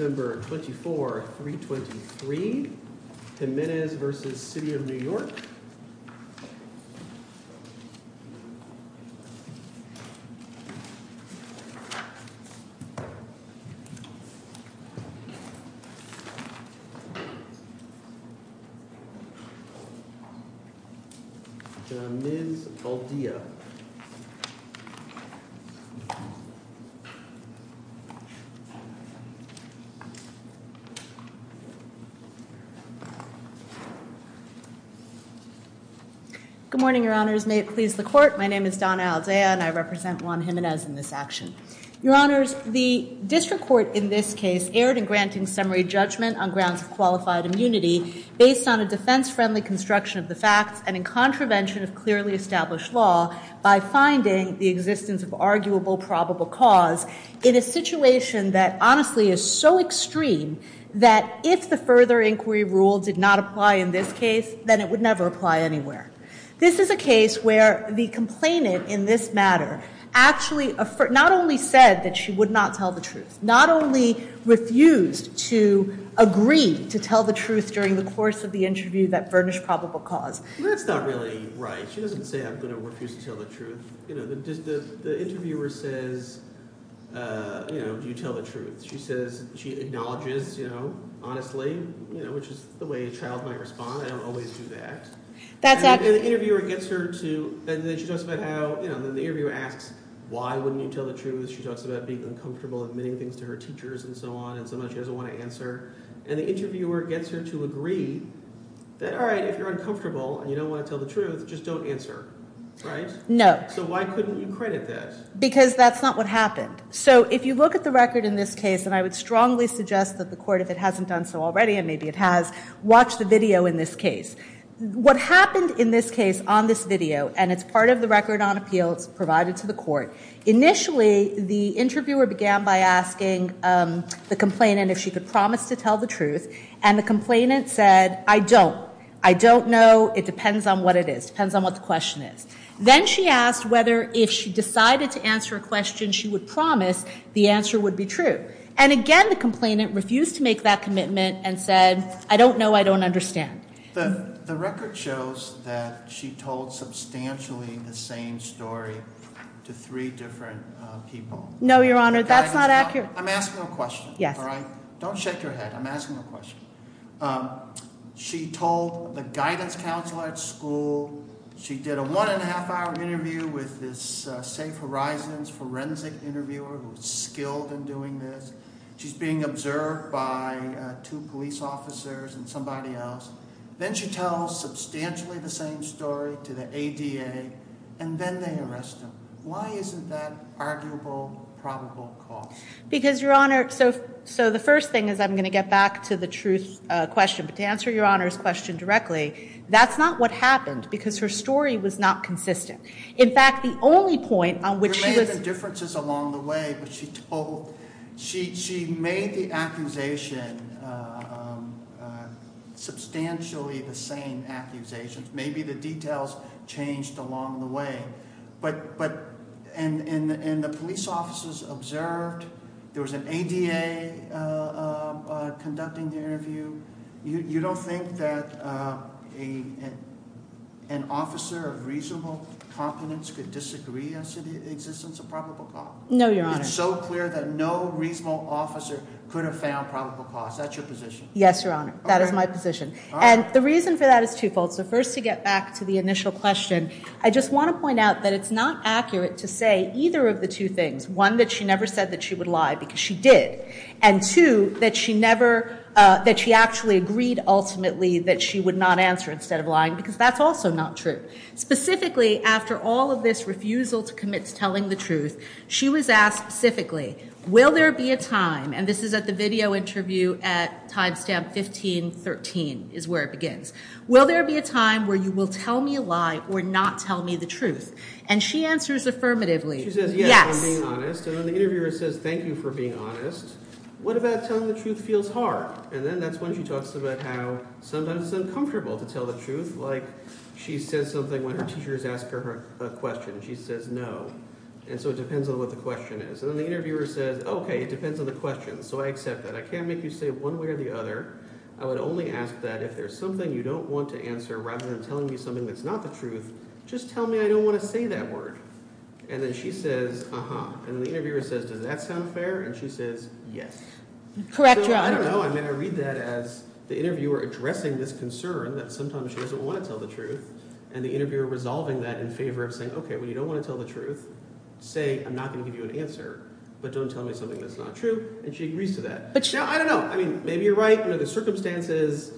November 24, 323 Jimenez v. The City of New York Ms. Aldea Good morning, Your Honors. May it please the Court. My name is Donna Aldea, and I represent Juan Jimenez in this action. Your Honors, the district court in this case erred in granting summary judgment on grounds of qualified immunity based on a defense-friendly construction of the facts and in contravention of clearly established law by finding the existence of arguable probable cause in a situation that honestly is so extreme that if the further inquiry rule did not apply in this case, then it would never apply anywhere. This is a case where the complainant in this matter actually not only said that she would not tell the truth, not only refused to agree to tell the truth during the course of the interview that furnished probable cause. Well, that's not really right. She doesn't say, I'm going to refuse to tell the truth. The interviewer says, do you tell the truth? She says, she acknowledges honestly, which is the way a child might respond. I don't always do that. That's accurate. And the interviewer gets her to, and then she talks about how, the interviewer asks, why wouldn't you tell the truth? She talks about being uncomfortable admitting things to her teachers and so on and so on. She doesn't want to answer. And the interviewer gets her to agree that, all right, if you're uncomfortable and you don't want to tell the truth, just don't answer, right? No. So why couldn't you credit that? Because that's not what happened. So if you look at the record in this case, and I would strongly suggest that the court, if it hasn't done so already, and maybe it has, watch the video in this case. What happened in this case on this video, and it's part of the record on appeal, it's provided to the court. Initially, the interviewer began by asking the complainant if she could promise to tell the truth. And the complainant said, I don't. I don't know. It depends on what it is. It depends on what the question is. Then she asked whether if she decided to answer a question she would promise the answer would be true. And again, the complainant refused to make that commitment and said, I don't know. I don't understand. The record shows that she told substantially the same story to three different people. No, Your Honor, that's not accurate. I'm asking a question. Yes. All right? Don't shake your head. I'm asking a question. She told the guidance counselor at school. She did a one and a half hour interview with this Safe Horizons forensic interviewer who was skilled in doing this. She's being observed by two police officers and somebody else. Then she tells substantially the same story to the ADA, and then they arrest him. Why isn't that arguable probable cause? Because, Your Honor, so the first thing is I'm going to get back to the truth question. But to answer Your Honor's question directly, that's not what happened because her story was not consistent. In fact, the only point on which she was There may have been differences along the way, but she told, she made the accusation substantially the same accusations. Maybe the details changed along the way. But, and the police officers observed, there was an ADA conducting the interview. You don't think that an officer of reasonable competence could disagree as to the existence of probable cause? No, Your Honor. It's so clear that no reasonable officer could have found probable cause. That's your position? Yes, Your Honor. That is my position. And the reason for that is twofold. So first to get back to the initial question, I just want to point out that it's not accurate to say either of the two things. One, that she never said that she would lie because she did. And two, that she never, that she actually agreed ultimately that she would not answer instead of lying because that's also not true. Specifically, after all of this refusal to commit to telling the truth, she was asked specifically, will there be a time, and this is at the video interview at timestamp 1513 is where it begins. Will there be a time where you will tell me a lie or not tell me the truth? And she answers affirmatively, yes. She says, yes, for being honest. And then the interviewer says, thank you for being honest. What about telling the truth feels hard? And then that's when she talks about how sometimes it's uncomfortable to tell the truth. Like she says something when her teachers ask her a question. She says, no. And so it depends on what the question is. And then the interviewer says, okay, it depends on the question. So I accept that. I can't make you say one way or the other. I would only ask that if there's something you don't want to answer, rather than telling me something that's not the truth, just tell me I don't want to say that word. And then she says, uh-huh. And the interviewer says, does that sound fair? And she says, yes. Correct. So I don't know. I mean, I read that as the interviewer addressing this concern that sometimes she doesn't want to tell the truth. And the interviewer resolving that in favor of saying, okay, well, you don't want to tell the truth. Say I'm not going to give you an answer, but don't tell me something that's not true. And she agrees to that. But she- Maybe you're right. The circumstances,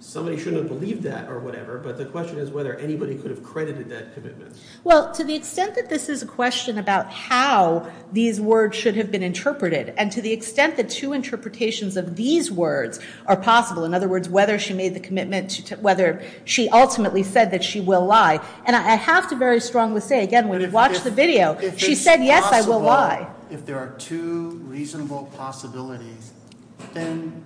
somebody shouldn't have believed that or whatever. But the question is whether anybody could have credited that commitment. Well, to the extent that this is a question about how these words should have been interpreted, and to the extent that two interpretations of these words are possible, in other words, whether she made the commitment to- whether she ultimately said that she will lie. And I have to very strongly say, again, when you watch the video, she said, yes, I will lie. If there are two reasonable possibilities, then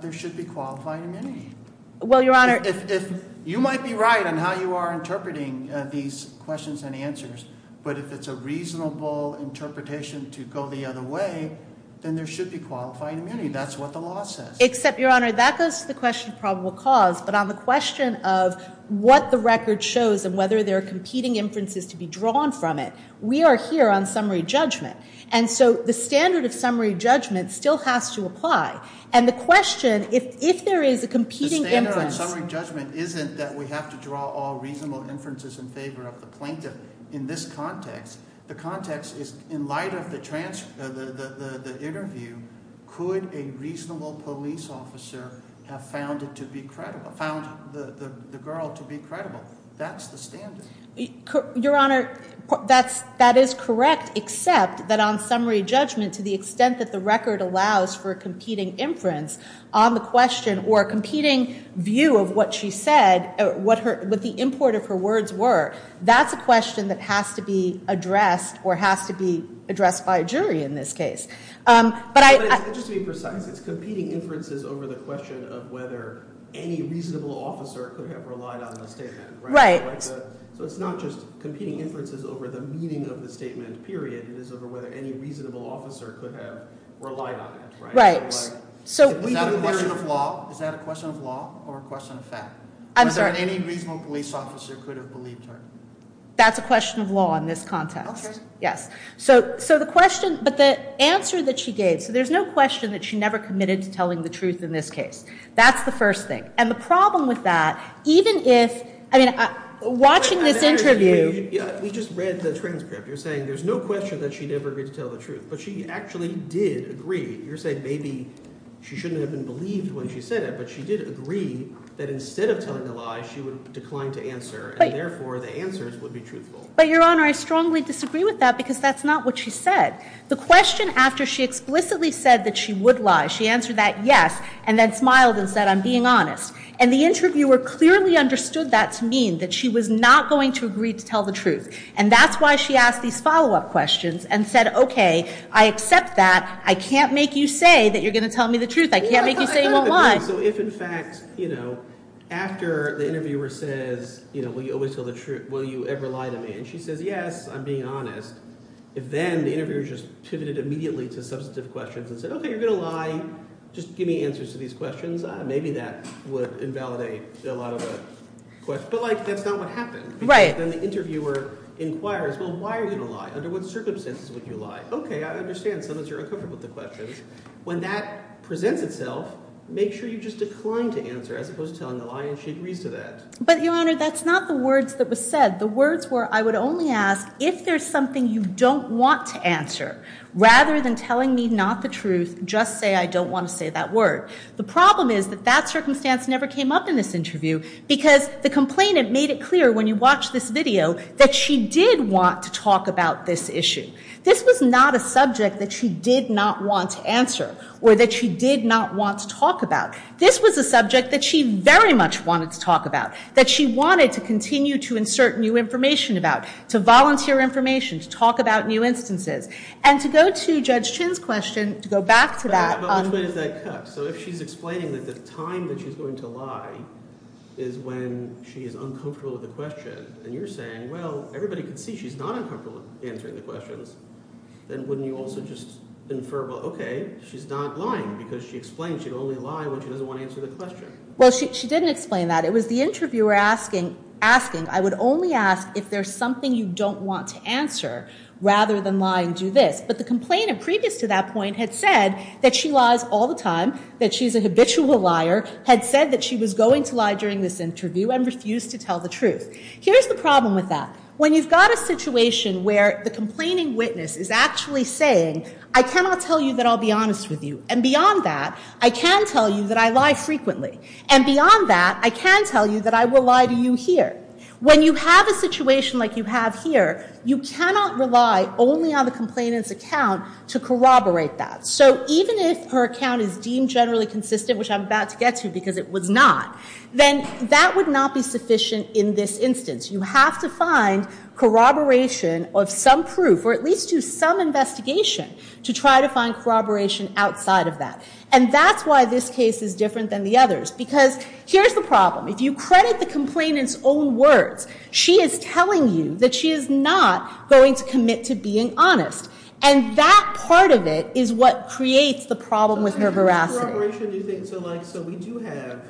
there should be qualified immunity. Well, Your Honor- If you might be right on how you are interpreting these questions and answers, but if it's a reasonable interpretation to go the other way, then there should be qualified immunity. That's what the law says. Except, Your Honor, that goes to the question of probable cause. But on the question of what the record shows and whether there are competing inferences to be drawn from it, we are here on summary judgment. And so the standard of summary judgment still has to apply. And the question, if there is a competing inference- The standard on summary judgment isn't that we have to draw all reasonable inferences in favor of the plaintiff in this context. The context is, in light of the interview, could a reasonable police officer have found it to be credible- found the girl to be credible? That's the standard. Your Honor, that is correct, except that on summary judgment, to the extent that the record allows for a competing inference on the question or a competing view of what she said, what the import of her words were, that's a question that has to be addressed or has to be addressed by a jury in this case. But I- But just to be precise, it's competing inferences over the question of whether any reasonable officer could have relied on the statement, right? Right. So it's not just competing inferences over the meaning of the statement, period. It is over whether any reasonable officer could have relied on it, right? Right. So- Is that a question of law? Is that a question of law or a question of fact? I'm sorry. Was there any reasonable police officer could have believed her? That's a question of law in this context. Okay. Yes. So the question- but the answer that she gave- so there's no question that she never committed to telling the truth in this case. That's the first thing. And the problem with that, even if- I mean, watching this interview- We just read the transcript. You're saying there's no question that she never agreed to tell the truth. But she actually did agree. You're saying maybe she shouldn't have been believed when she said it, but she did agree that instead of telling a lie, she would decline to answer. But- And therefore, the answers would be truthful. But, Your Honor, I strongly disagree with that because that's not what she said. The question after she explicitly said that she would lie, she answered that yes, and then the interviewer clearly understood that to mean that she was not going to agree to tell the truth. And that's why she asked these follow-up questions and said, okay, I accept that. I can't make you say that you're going to tell me the truth. I can't make you say you won't lie. So if, in fact, after the interviewer says, will you always tell the truth, will you ever lie to me? And she says, yes, I'm being honest. If then the interviewer just pivoted immediately to substantive questions and said, okay, you're going to lie, just give me answers to these questions, maybe that would invalidate a lot of the questions. But, like, that's not what happened. Right. Because then the interviewer inquires, well, why are you going to lie? Under what circumstances would you lie? Okay, I understand some of us are uncomfortable with the questions. When that presents itself, make sure you just decline to answer as opposed to telling the lie and she agrees to that. But, Your Honor, that's not the words that were said. The words were, I would only ask, if there's something you don't want to answer, rather than telling me not the truth, just say I don't want to say that word. The problem is that that circumstance never came up in this interview because the complainant made it clear when you watch this video that she did want to talk about this issue. This was not a subject that she did not want to answer or that she did not want to talk about. This was a subject that she very much wanted to talk about, that she wanted to continue to insert new information about, to volunteer information, to talk about new instances. And to go to Judge Chin's question, to go back to that. But which way does that cut? So if she's explaining that the time that she's going to lie is when she is uncomfortable with the question, and you're saying, well, everybody can see she's not uncomfortable answering the questions, then wouldn't you also just infer, well, okay, she's not lying because she explained she'd only lie when she doesn't want to answer the question. Well, she didn't explain that. It was the interviewer asking, asking, I would only ask if there's something you don't want to answer rather than lie and do this. But the complainant previous to that point had said that she lies all the time, that she's a habitual liar, had said that she was going to lie during this interview and refused to tell the truth. Here's the problem with that. When you've got a situation where the complaining witness is actually saying, I cannot tell you that I'll be honest with you, and beyond that, I can tell you that I lie frequently, and beyond that, I can tell you that I will lie to you here. When you have a situation like you have here, you cannot rely only on the complainant's account to corroborate that. So even if her account is deemed generally consistent, which I'm about to get to because it was not, then that would not be sufficient in this instance. You have to find corroboration of some proof or at least do some investigation to try to find corroboration outside of that. And that's why this case is different than the others. Because here's the problem. If you credit the complainant's own words, she is telling you that she is not going to commit to being honest. And that part of it is what creates the problem with her veracity. So we do have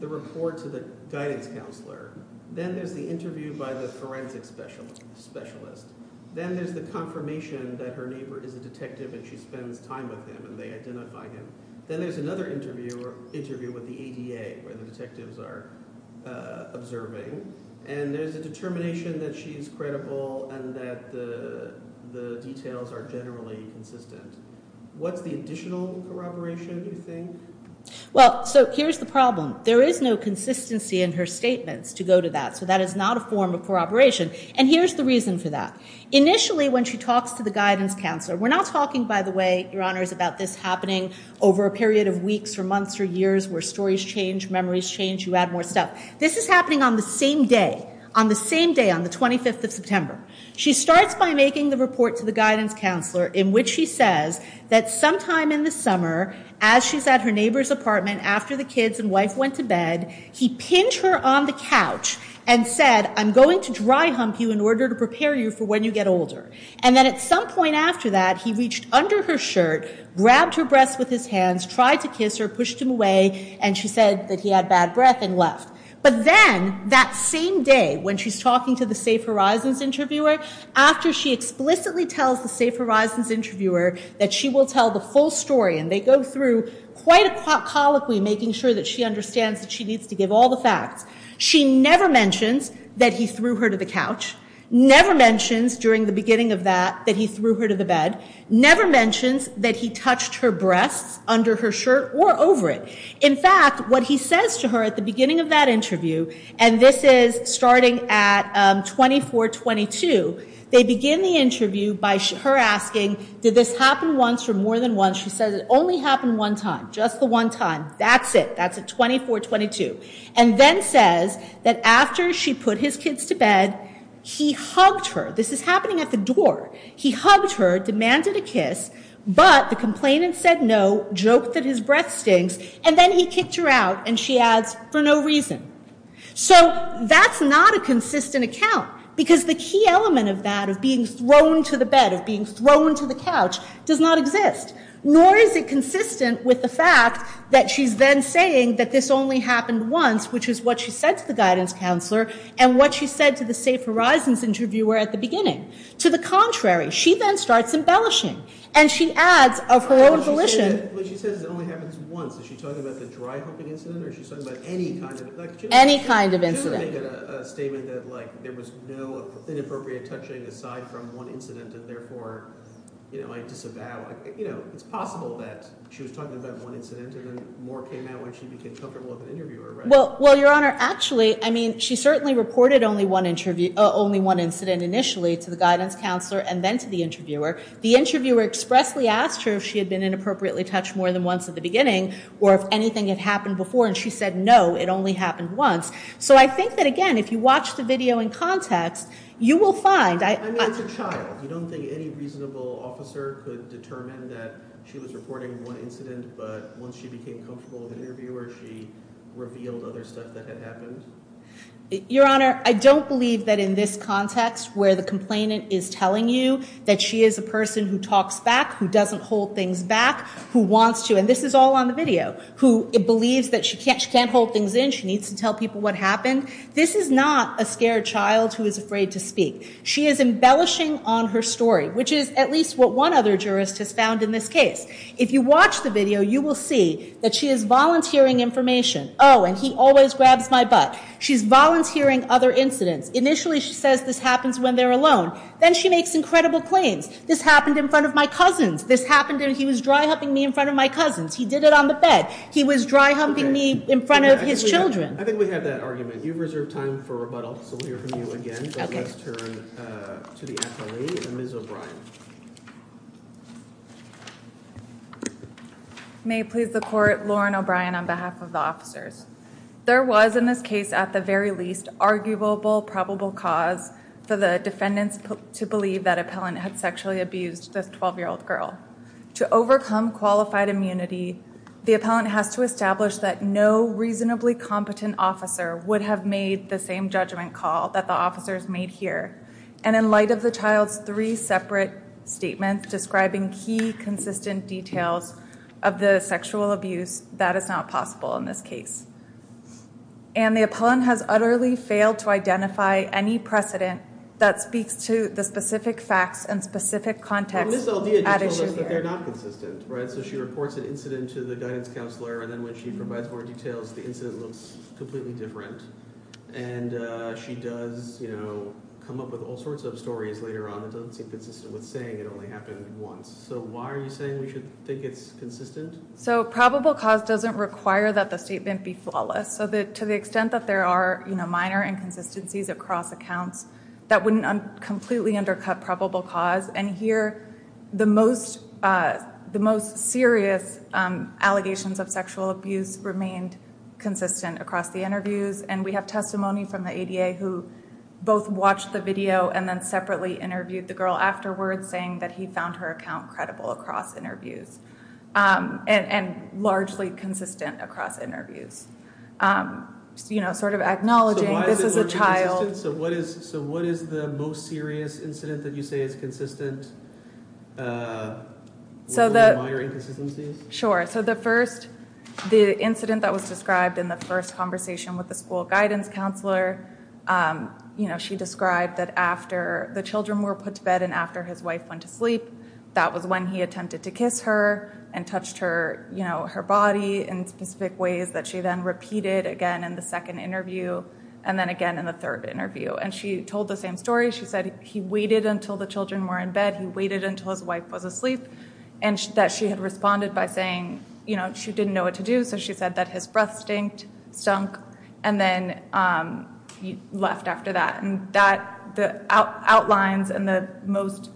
the report to the guidance counselor. Then there's the interview by the forensic specialist. Then there's the confirmation that her neighbor is a detective and she spends time with him and they identify him. Then there's another interview with the ADA where the detectives are observing. And there's a determination that she is credible and that the details are generally consistent. What's the additional corroboration, do you think? Well, so here's the problem. There is no consistency in her statements to go to that. So that is not a form of corroboration. And here's the reason for that. Initially, when she talks to the guidance counselor, we're not talking, by the way, about this happening over a period of weeks or months or years where stories change, memories change, you add more stuff. This is happening on the same day, on the same day, on the 25th of September. She starts by making the report to the guidance counselor in which she says that sometime in the summer, as she's at her neighbor's apartment, after the kids and wife went to bed, he pinned her on the couch and said, I'm going to dry hump you in order to prepare you for when you get older. And then at some point after that, he reached under her shirt, grabbed her breasts with his hands, tried to kiss her, pushed him away, and she said that he had bad breath and left. But then, that same day, when she's talking to the Safe Horizons interviewer, after she explicitly tells the Safe Horizons interviewer that she will tell the full story, and they go through quite a colloquy making sure that she understands that she needs to give all the facts, she never mentions that he threw her to the couch, never mentions during the beginning of that that he threw her to the bed, never mentions that he touched her breasts under her shirt or over it. In fact, what he says to her at the beginning of that interview, and this is starting at 24-22, they begin the interview by her asking, did this happen once or more than once? She says it only happened one time, just the one time, that's it, that's at 24-22. And then says that after she put his kids to bed, he hugged her, this is happening at the door, he hugged her, demanded a kiss, but the complainant said no, joked that his breath stinks, and then he kicked her out, and she adds, for no reason. So, that's not a consistent account, because the key element of that, of being thrown to the bed, of being thrown to the couch, does not exist. Nor is it consistent with the fact that she's then saying that this only happened once, which is what she said to the guidance counselor, and what she said to the Safe Horizons interviewer at the beginning. To the contrary, she then starts embellishing, and she adds of her own volition... But she says it only happens once. Is she talking about the dry-hopping incident, or is she talking about any kind of... Any kind of incident. She doesn't make a statement that, like, there was no inappropriate touching aside from one incident, and therefore, you know, I disavow... You know, it's possible that she was talking about one incident, and then more came out when she became comfortable with an interviewer, right? Well, Your Honor, actually, I mean, she certainly reported only one incident initially to the guidance counselor, and then to the interviewer. The interviewer expressly asked her if she had been inappropriately touched more than once at the beginning, or if anything had happened before, and she said no, it only happened once. So, I think that, again, if you watch the video in context, you will find... I mean, it's a child. You don't think any reasonable officer could determine that she was reporting one incident, but once she became comfortable with an interviewer, she revealed other stuff that had happened? Your Honor, I don't believe that in this context, where the complainant is telling you that she is a person who talks back, who doesn't hold things back, who wants to... And this is all on the video. Who believes that she can't hold things in, she needs to tell people what happened. This is not a scared child who is afraid to speak. She is embellishing on her story, which is at least what one other jurist has found in this case. If you watch the video, you will see that she is volunteering information. Oh, and he always grabs my butt. She's volunteering other incidents. Initially, she says this happens when they're alone. Then she makes incredible claims. This happened in front of my cousins. This happened when he was dry-humping me in front of my cousins. He did it on the bed. He was dry-humping me in front of his children. I think we have that argument. You've reserved time for rebuttal, so we'll hear from you again. Let's turn to the appellee, Ms. O'Brien. May it please the court, Lauren O'Brien on behalf of the officers. There was, in this case, at the very least, arguable probable cause for the defendants to believe that appellant had sexually abused this 12-year-old girl. To overcome qualified immunity, the appellant has to establish that no reasonably competent officer would have made the same judgment call that the officers made here. And in light of the child's three separate statements describing key consistent details of the sexual abuse, that is not possible in this case. And the appellant has utterly failed to identify any precedent that speaks to the specific facts and specific context at issue here. But Ms. Aldea told us that they're not consistent, right? So she reports an incident to the guidance counselor, and then when she provides more details, the incident looks completely different. And she does, you know, come up with all sorts of stories later on that don't seem consistent with saying it only happened once. So why are you saying we should think it's consistent? So probable cause doesn't require that the statement be flawless. So to the extent that there are, you know, minor inconsistencies across accounts, that wouldn't completely undercut probable cause. And here, the most serious allegations of sexual abuse remained consistent across the And we have testimony from the ADA who both watched the video and then separately interviewed the girl afterwards, saying that he found her account credible across interviews. And largely consistent across interviews. You know, sort of acknowledging this is a child. So what is the most serious incident that you say is consistent with minor inconsistencies? Sure. So the first, the incident that was described in the first conversation with the school guidance counselor, you know, she described that after the children were put to bed and after his wife went to sleep, that was when he attempted to kiss her and touched her, you know, her body in specific ways that she then repeated again in the second interview and then again in the third interview. And she told the same story. She said he waited until the children were in bed. He waited until his wife was asleep. And that she had responded by saying, you know, she didn't know what to do. So she said that his breath stinked, stunk, and then left after that. And that, the outlines and the most,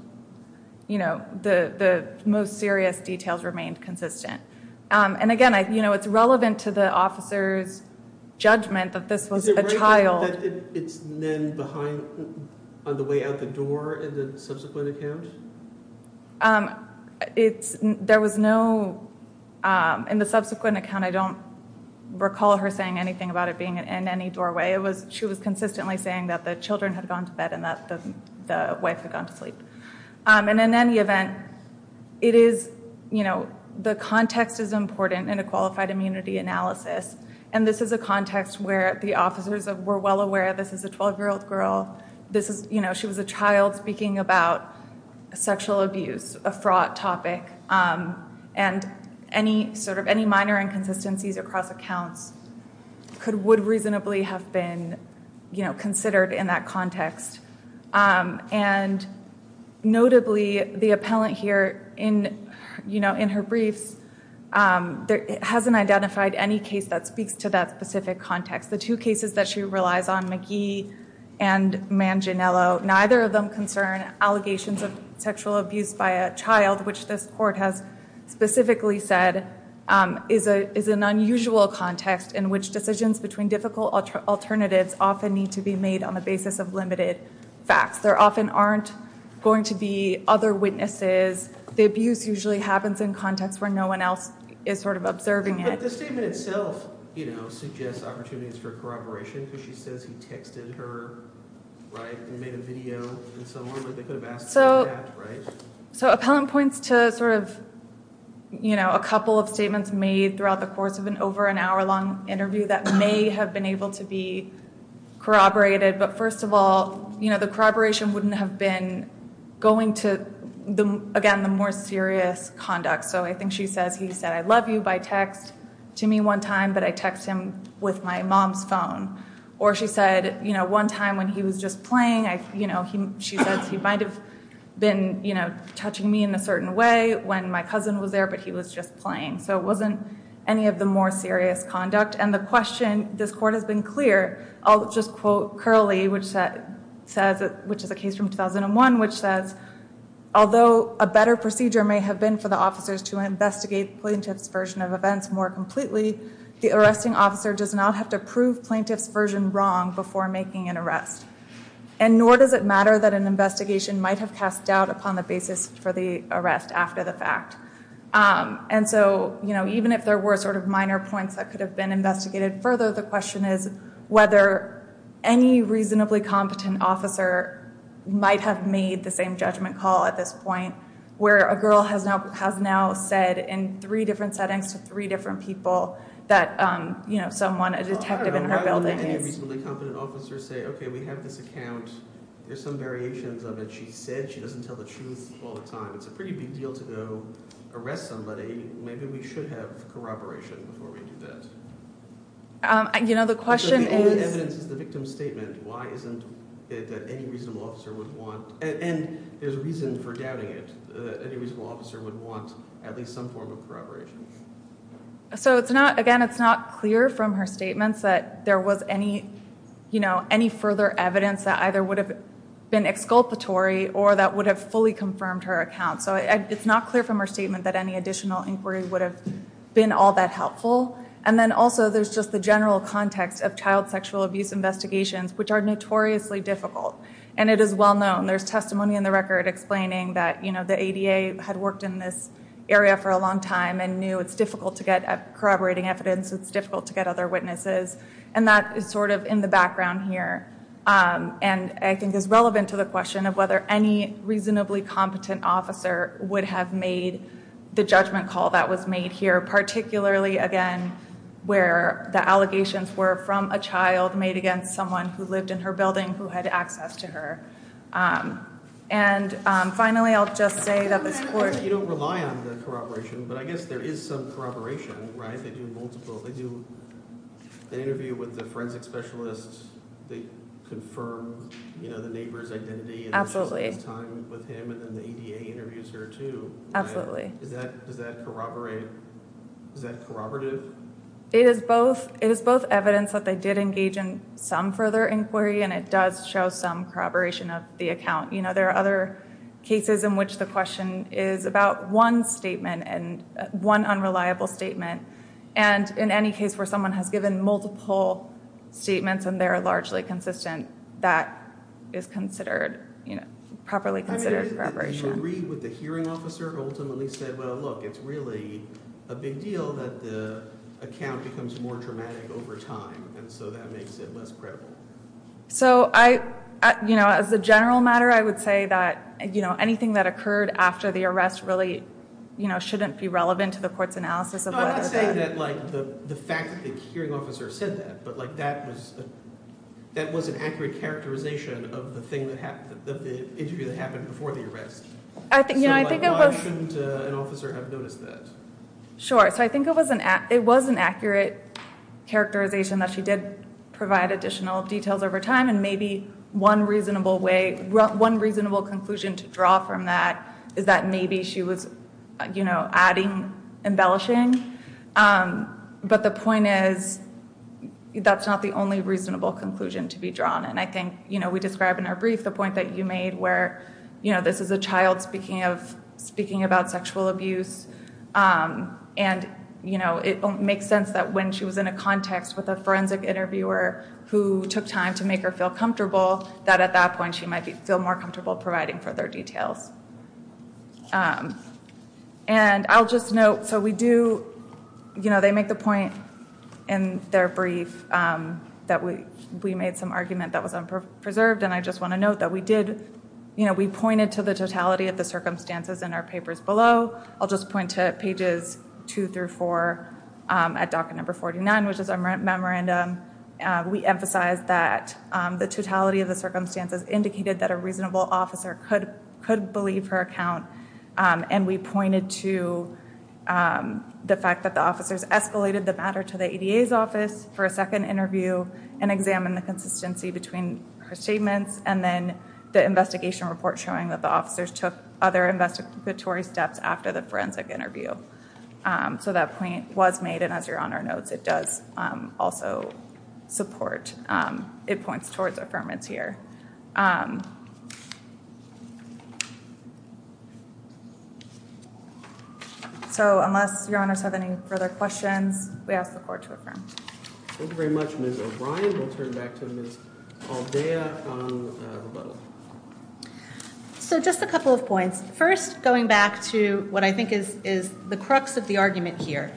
you know, the most serious details remained consistent. And again, you know, it's relevant to the officer's judgment that this was a child. Is it right that it's then behind, on the way out the door in the subsequent account? It's, there was no, in the subsequent account, I don't recall her saying anything about it being in any doorway. It was, she was consistently saying that the children had gone to bed and that the wife had gone to sleep. And in any event, it is, you know, the context is important in a qualified immunity analysis. And this is a context where the officers were well aware this is a 12-year-old girl. This is, you know, she was a child speaking about sexual abuse, a fraught topic. And any sort of, any minor inconsistencies across accounts could, would reasonably have been, you know, considered in that context. And notably, the appellant here in, you know, in her briefs, hasn't identified any case that speaks to that specific context. The two cases that she relies on, McGee and Manginello, neither of them concern allegations of sexual abuse by a child, which this court has specifically said is an unusual context in which decisions between difficult alternatives often need to be made on the basis of limited facts. There often aren't going to be other witnesses. The abuse usually happens in context where no one else is sort of observing it. But the statement itself, you know, suggests opportunities for corroboration because she says he texted her, right, and made a video and so on. Like, they could have asked for that, right? So, so appellant points to sort of, you know, a couple of statements made throughout the course of an over an hour long interview that may have been able to be corroborated. But first of all, you know, the corroboration wouldn't have been going to, again, the more serious conduct. So I think she says, he said, I love you by text to me one time, but I text him with my mom's phone. Or she said, you know, one time when he was just playing, you know, she said he might have been, you know, touching me in a certain way when my cousin was there, but he was just playing. So it wasn't any of the more serious conduct. And the question, this court has been clear, I'll just quote Curley, which says, which is a case from 2001, which says, although a better procedure may have been for the officers to investigate plaintiff's version of events more completely, the arresting officer does not have to prove plaintiff's version wrong before making an arrest. And nor does it matter that an investigation might have cast doubt upon the basis for the arrest after the fact. And so, you know, even if there were sort of minor points that could have been investigated further, the question is whether any reasonably competent officer might have made the same judgment call at this point where a girl has now said in three different settings to three different people that, you know, someone, a detective in her building is. I don't know how many reasonably competent officers say, okay, we have this account. There's some variations of it. She said she doesn't tell the truth all the time. It's a pretty big deal to go arrest somebody. Maybe we should have corroboration before we do that. You know, the question is... The only evidence is the victim's statement. Why isn't it that any reasonable officer would want, and there's a reason for doubting it, that any reasonable officer would want at least some form of corroboration. So it's not, again, it's not clear from her statements that there was any, you know, any further evidence that either would have been exculpatory or that would have fully confirmed her account. So it's not clear from her statement that any additional inquiry would have been all that helpful. And then also there's just the general context of child sexual abuse investigations, which are notoriously difficult. And it is well known. There's testimony in the record explaining that, you know, the ADA had worked in this area for a long time and knew it's difficult to get corroborating evidence. It's difficult to get other witnesses. And that is sort of in the background here. And I think is relevant to the question of whether any reasonably competent officer would have made the judgment call that was made here. Particularly, again, where the allegations were from a child made against someone who lived in her building who had access to her. And finally, I'll just say that this court... You don't rely on the corroboration, but I guess there is some corroboration, right? They do multiple... They interview with the forensic specialists. They confirm, you know, the neighbor's identity. And she spends time with him. And then the ADA interviews her, too. Absolutely. Does that corroborate... Is that corroborative? It is both. It is both evidence that they did engage in some further inquiry. And it does show some corroboration of the account. You know, there are other cases in which the question is about one statement and one unreliable statement. And in any case where someone has given multiple statements and they're largely consistent, that is considered, you know, properly considered corroboration. Do you agree with the hearing officer who ultimately said, well, look, it's really a big deal that the account becomes more dramatic over time. And so that makes it less credible? So I... You know, as a general matter, I would say that, you know, anything that occurred after the arrest really, you know, shouldn't be relevant to the court's analysis of whether... I'm not saying that, like, the fact that the hearing officer said that, but, like, that was an accurate characterization of the interview that happened before the arrest. You know, I think it was... So why shouldn't an officer have noticed that? Sure. So I think it was an accurate characterization that she did provide additional details over time. And maybe one reasonable way, one reasonable conclusion to draw from that is that maybe she was, you know, adding embellishing. But the point is that's not the only reasonable conclusion to be drawn. And I think, you know, we described in our brief the point that you made where, you know, this is a child speaking of... speaking about sexual abuse. And, you know, it makes sense that when she was in a context with a forensic interviewer who took time to make her feel comfortable, that at that point she might feel more comfortable providing further details. And I'll just note... So we do... You know, they make the point in their brief that we made some argument that was unpreserved. And I just want to note that we did... You know, we pointed to the totality of the circumstances in our papers below. I'll just point to pages 2 through 4 at docket number 49, which is our memorandum. We emphasized that the totality of the circumstances indicated that a reasonable officer could believe her account. And we pointed to the fact that the officers escalated the matter to the ADA's office for a second interview and examined the consistency between her statements and then the investigation report showing that the officers took other investigatory steps after the forensic interview. So that point was made. And as Your Honor notes, it does also support... It points towards affirmance here. So unless Your Honors have any further questions, we ask the Court to affirm. Thank you very much, Ms. O'Brien. We'll turn back to Ms. Aldea on rebuttal. So just a couple of points. First, going back to what I think is the crux of the argument here.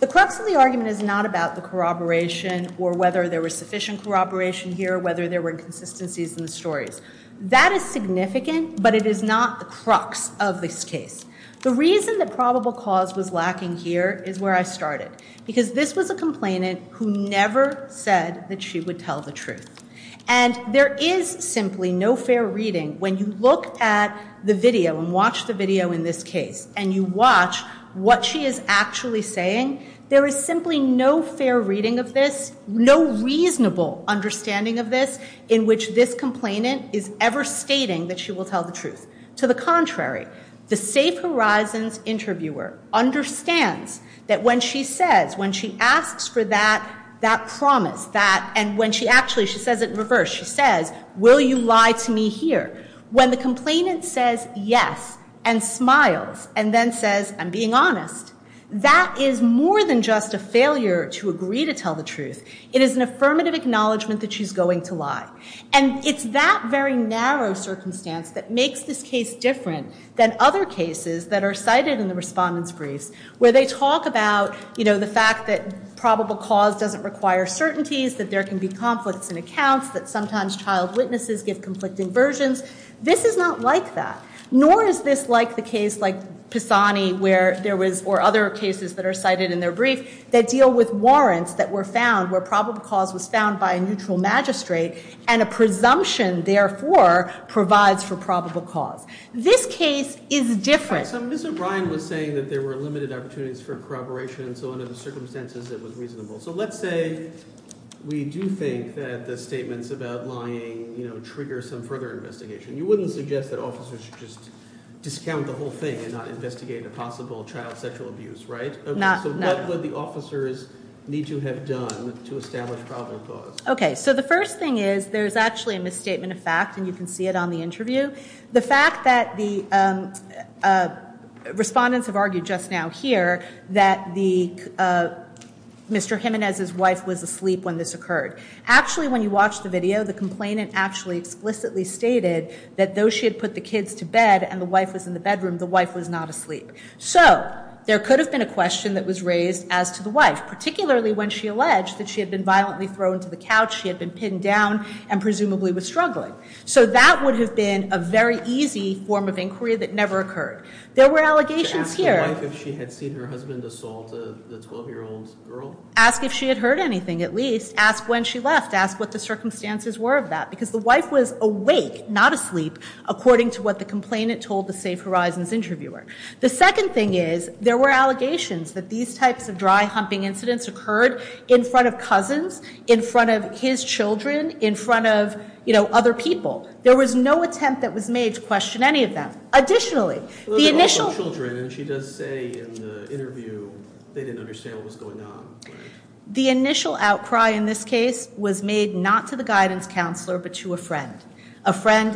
The crux of the argument is not about the corroboration or whether there was sufficient corroboration here or whether there were inconsistencies in the stories. That is significant, but it is not the crux of this case. The reason that probable cause was lacking here is where I started. Because this was a complainant who never said that she would tell the truth. And there is simply no fair reading. When you look at the video and watch the video in this case and you watch what she is actually saying, there is simply no fair reading of this, no reasonable understanding of this in which this complainant is ever stating that she will tell the truth. To the contrary, the Safe Horizons interviewer understands that when she says, when she asks for that promise, that, and when she actually, she says it in reverse. She says, will you lie to me here? When the complainant says yes and smiles and then says, I'm being honest, that is more than just a failure to agree to tell the truth. It is an affirmative acknowledgement that she's going to lie. And it's that very narrow circumstance that makes this case different than other cases that are cited in the respondents' briefs, where they talk about the fact that probable cause doesn't require certainties, that there can be conflicts in accounts, that sometimes child witnesses give conflicting versions. This is not like that. Nor is this like the case like Pisani or other cases that are cited in their brief that deal with warrants that were found where probable cause was found by a neutral magistrate and a presumption, therefore, provides for probable cause. This case is different. So Ms. O'Brien was saying that there were limited opportunities for corroboration. So under the circumstances, it was reasonable. So let's say we do think that the statements about lying trigger some further investigation. You wouldn't suggest that officers should just discount the whole thing and not investigate a possible child sexual abuse, right? No. So what would the officers need to have done to establish probable cause? OK. So the first thing is, there's actually a misstatement of fact. And you can see it on the interview. The fact that the respondents have argued just now here that Mr. Jimenez's wife was asleep when this occurred. Actually, when you watch the video, the complainant actually explicitly stated that though she had put the kids to bed and the wife was in the bedroom, the wife was not asleep. So there could have been a question that was raised as to the wife, particularly when she alleged that she had been violently thrown to the couch, she had been pinned down, and presumably was struggling. So that would have been a very easy form of inquiry that never occurred. There were allegations here. Ask the wife if she had seen her husband assault the 12-year-old girl? Ask if she had heard anything, at least. Ask when she left. Ask what the circumstances were of that. Because the wife was awake, not asleep, according to what the complainant told the Safe Horizons interviewer. The second thing is, there were allegations that these types of dry, humping incidents occurred in front of cousins, in front of his children, in front of other people. There was no attempt that was made to question any of them. Additionally, the initial... She does say in the interview they didn't understand what was going on. The initial outcry in this case was made not to the guidance counselor, but to a friend. A friend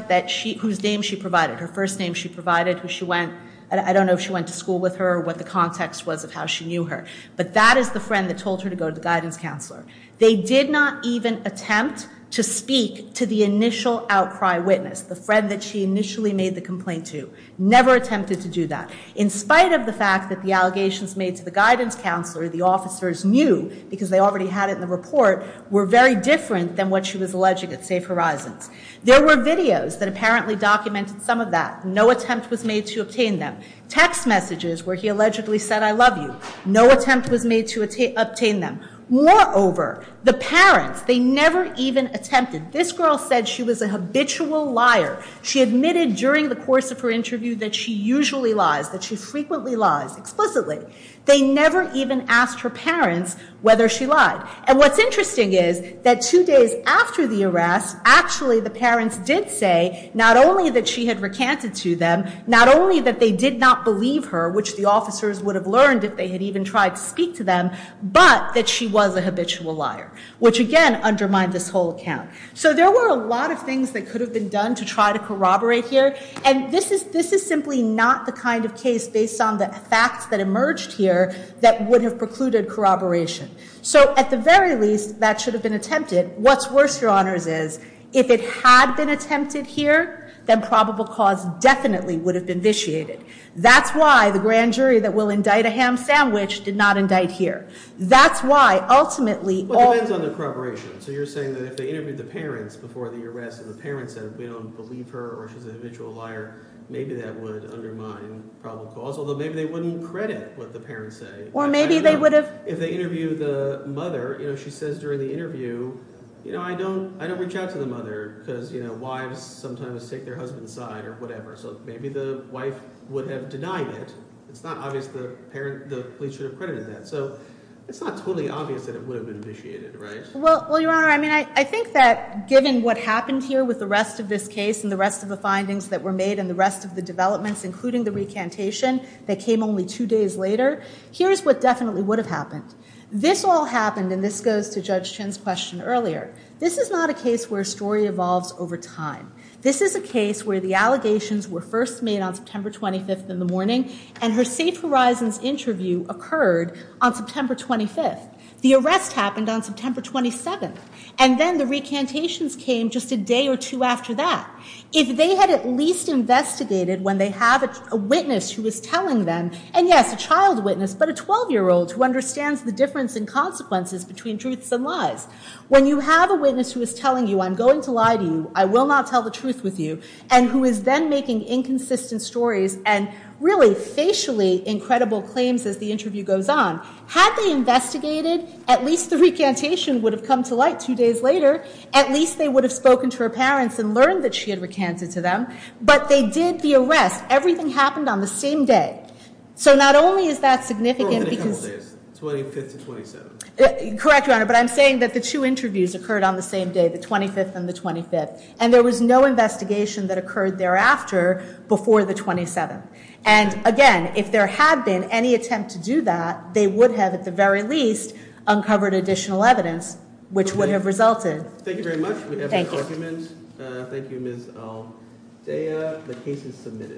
whose name she provided, her first name she provided, who she went... I don't know if she went to school with her or what the context was of how she knew her. But that is the friend that told her to go to the guidance counselor. They did not even attempt to speak to the initial outcry witness, the friend that she initially made the complaint to. Never attempted to do that. In spite of the fact that the allegations made to the guidance counselor, the officers knew, because they already had it in the report, were very different than what she was alleging at Safe Horizons. There were videos that apparently documented some of that. No attempt was made to obtain them. Text messages where he allegedly said, I love you. No attempt was made to obtain them. Moreover, the parents, they never even attempted. This girl said she was a habitual liar. She admitted during the course of her interview that she usually lies, that she frequently lies, explicitly. They never even asked her parents whether she lied. And what's interesting is that two days after the arrest, actually the parents did say not only that she had recanted to them, not only that they did not believe her, which the officers would have learned if they had even tried to speak to them, but that she was a habitual liar, which again undermined this whole account. So there were a lot of things that could have been done to try to corroborate here. And this is simply not the kind of case based on the facts that emerged here that would have precluded corroboration. So at the very least, that should have been attempted. What's worse, Your Honors, is if it had been attempted here, then probable cause definitely would have been vitiated. That's why the grand jury that will indict a ham sandwich did not indict here. That's why, ultimately... Well, it depends on the corroboration. So you're saying that if they interviewed the parents before the arrest and the parents said we don't believe her or she's a habitual liar, maybe that would undermine probable cause, although maybe they wouldn't credit what the parents say. Or maybe they would have... If they interview the mother, she says during the interview, I don't reach out to the mother, because wives sometimes take their husband's side or whatever. So maybe the wife would have denied it. It's not obvious the police should have credited that. So it's not totally obvious that it would have been vitiated, right? Well, Your Honor, I think that given what happened here with the rest of this case and the rest of the findings that were made and the rest of the developments, including the recantation that came only two days later, here's what definitely would have happened. This all happened, and this goes to Judge Chin's question earlier. This is not a case where a story evolves over time. This is a case where the allegations were first made on September 25th in the morning, and her Safe Horizons interview occurred on September 25th. The arrest happened on September 27th, and then the recantations came just a day or two after that. If they had at least investigated when they have a witness who is telling them, and yes, a child witness, but a 12-year-old who understands the difference in consequences between truths and lies. When you have a witness who is telling you, I'm going to lie to you, I will not tell the truth with you, and who is then making inconsistent stories and really facially incredible claims as the interview goes on, had they investigated, at least the recantation would have come to light two days later. At least they would have spoken to her parents and learned that she had recanted to them. But they did the arrest. Everything happened on the same day. So not only is that significant because... It was only a couple of days, 25th to 27th. Correct, Your Honor, but I'm saying that the two interviews occurred on the same day, the 25th and the 25th. And there was no investigation that occurred thereafter before the 27th. And, again, if there had been any attempt to do that, they would have, at the very least, uncovered additional evidence, which would have resulted... Thank you very much. Thank you, Ms. Aldea. The case is submitted.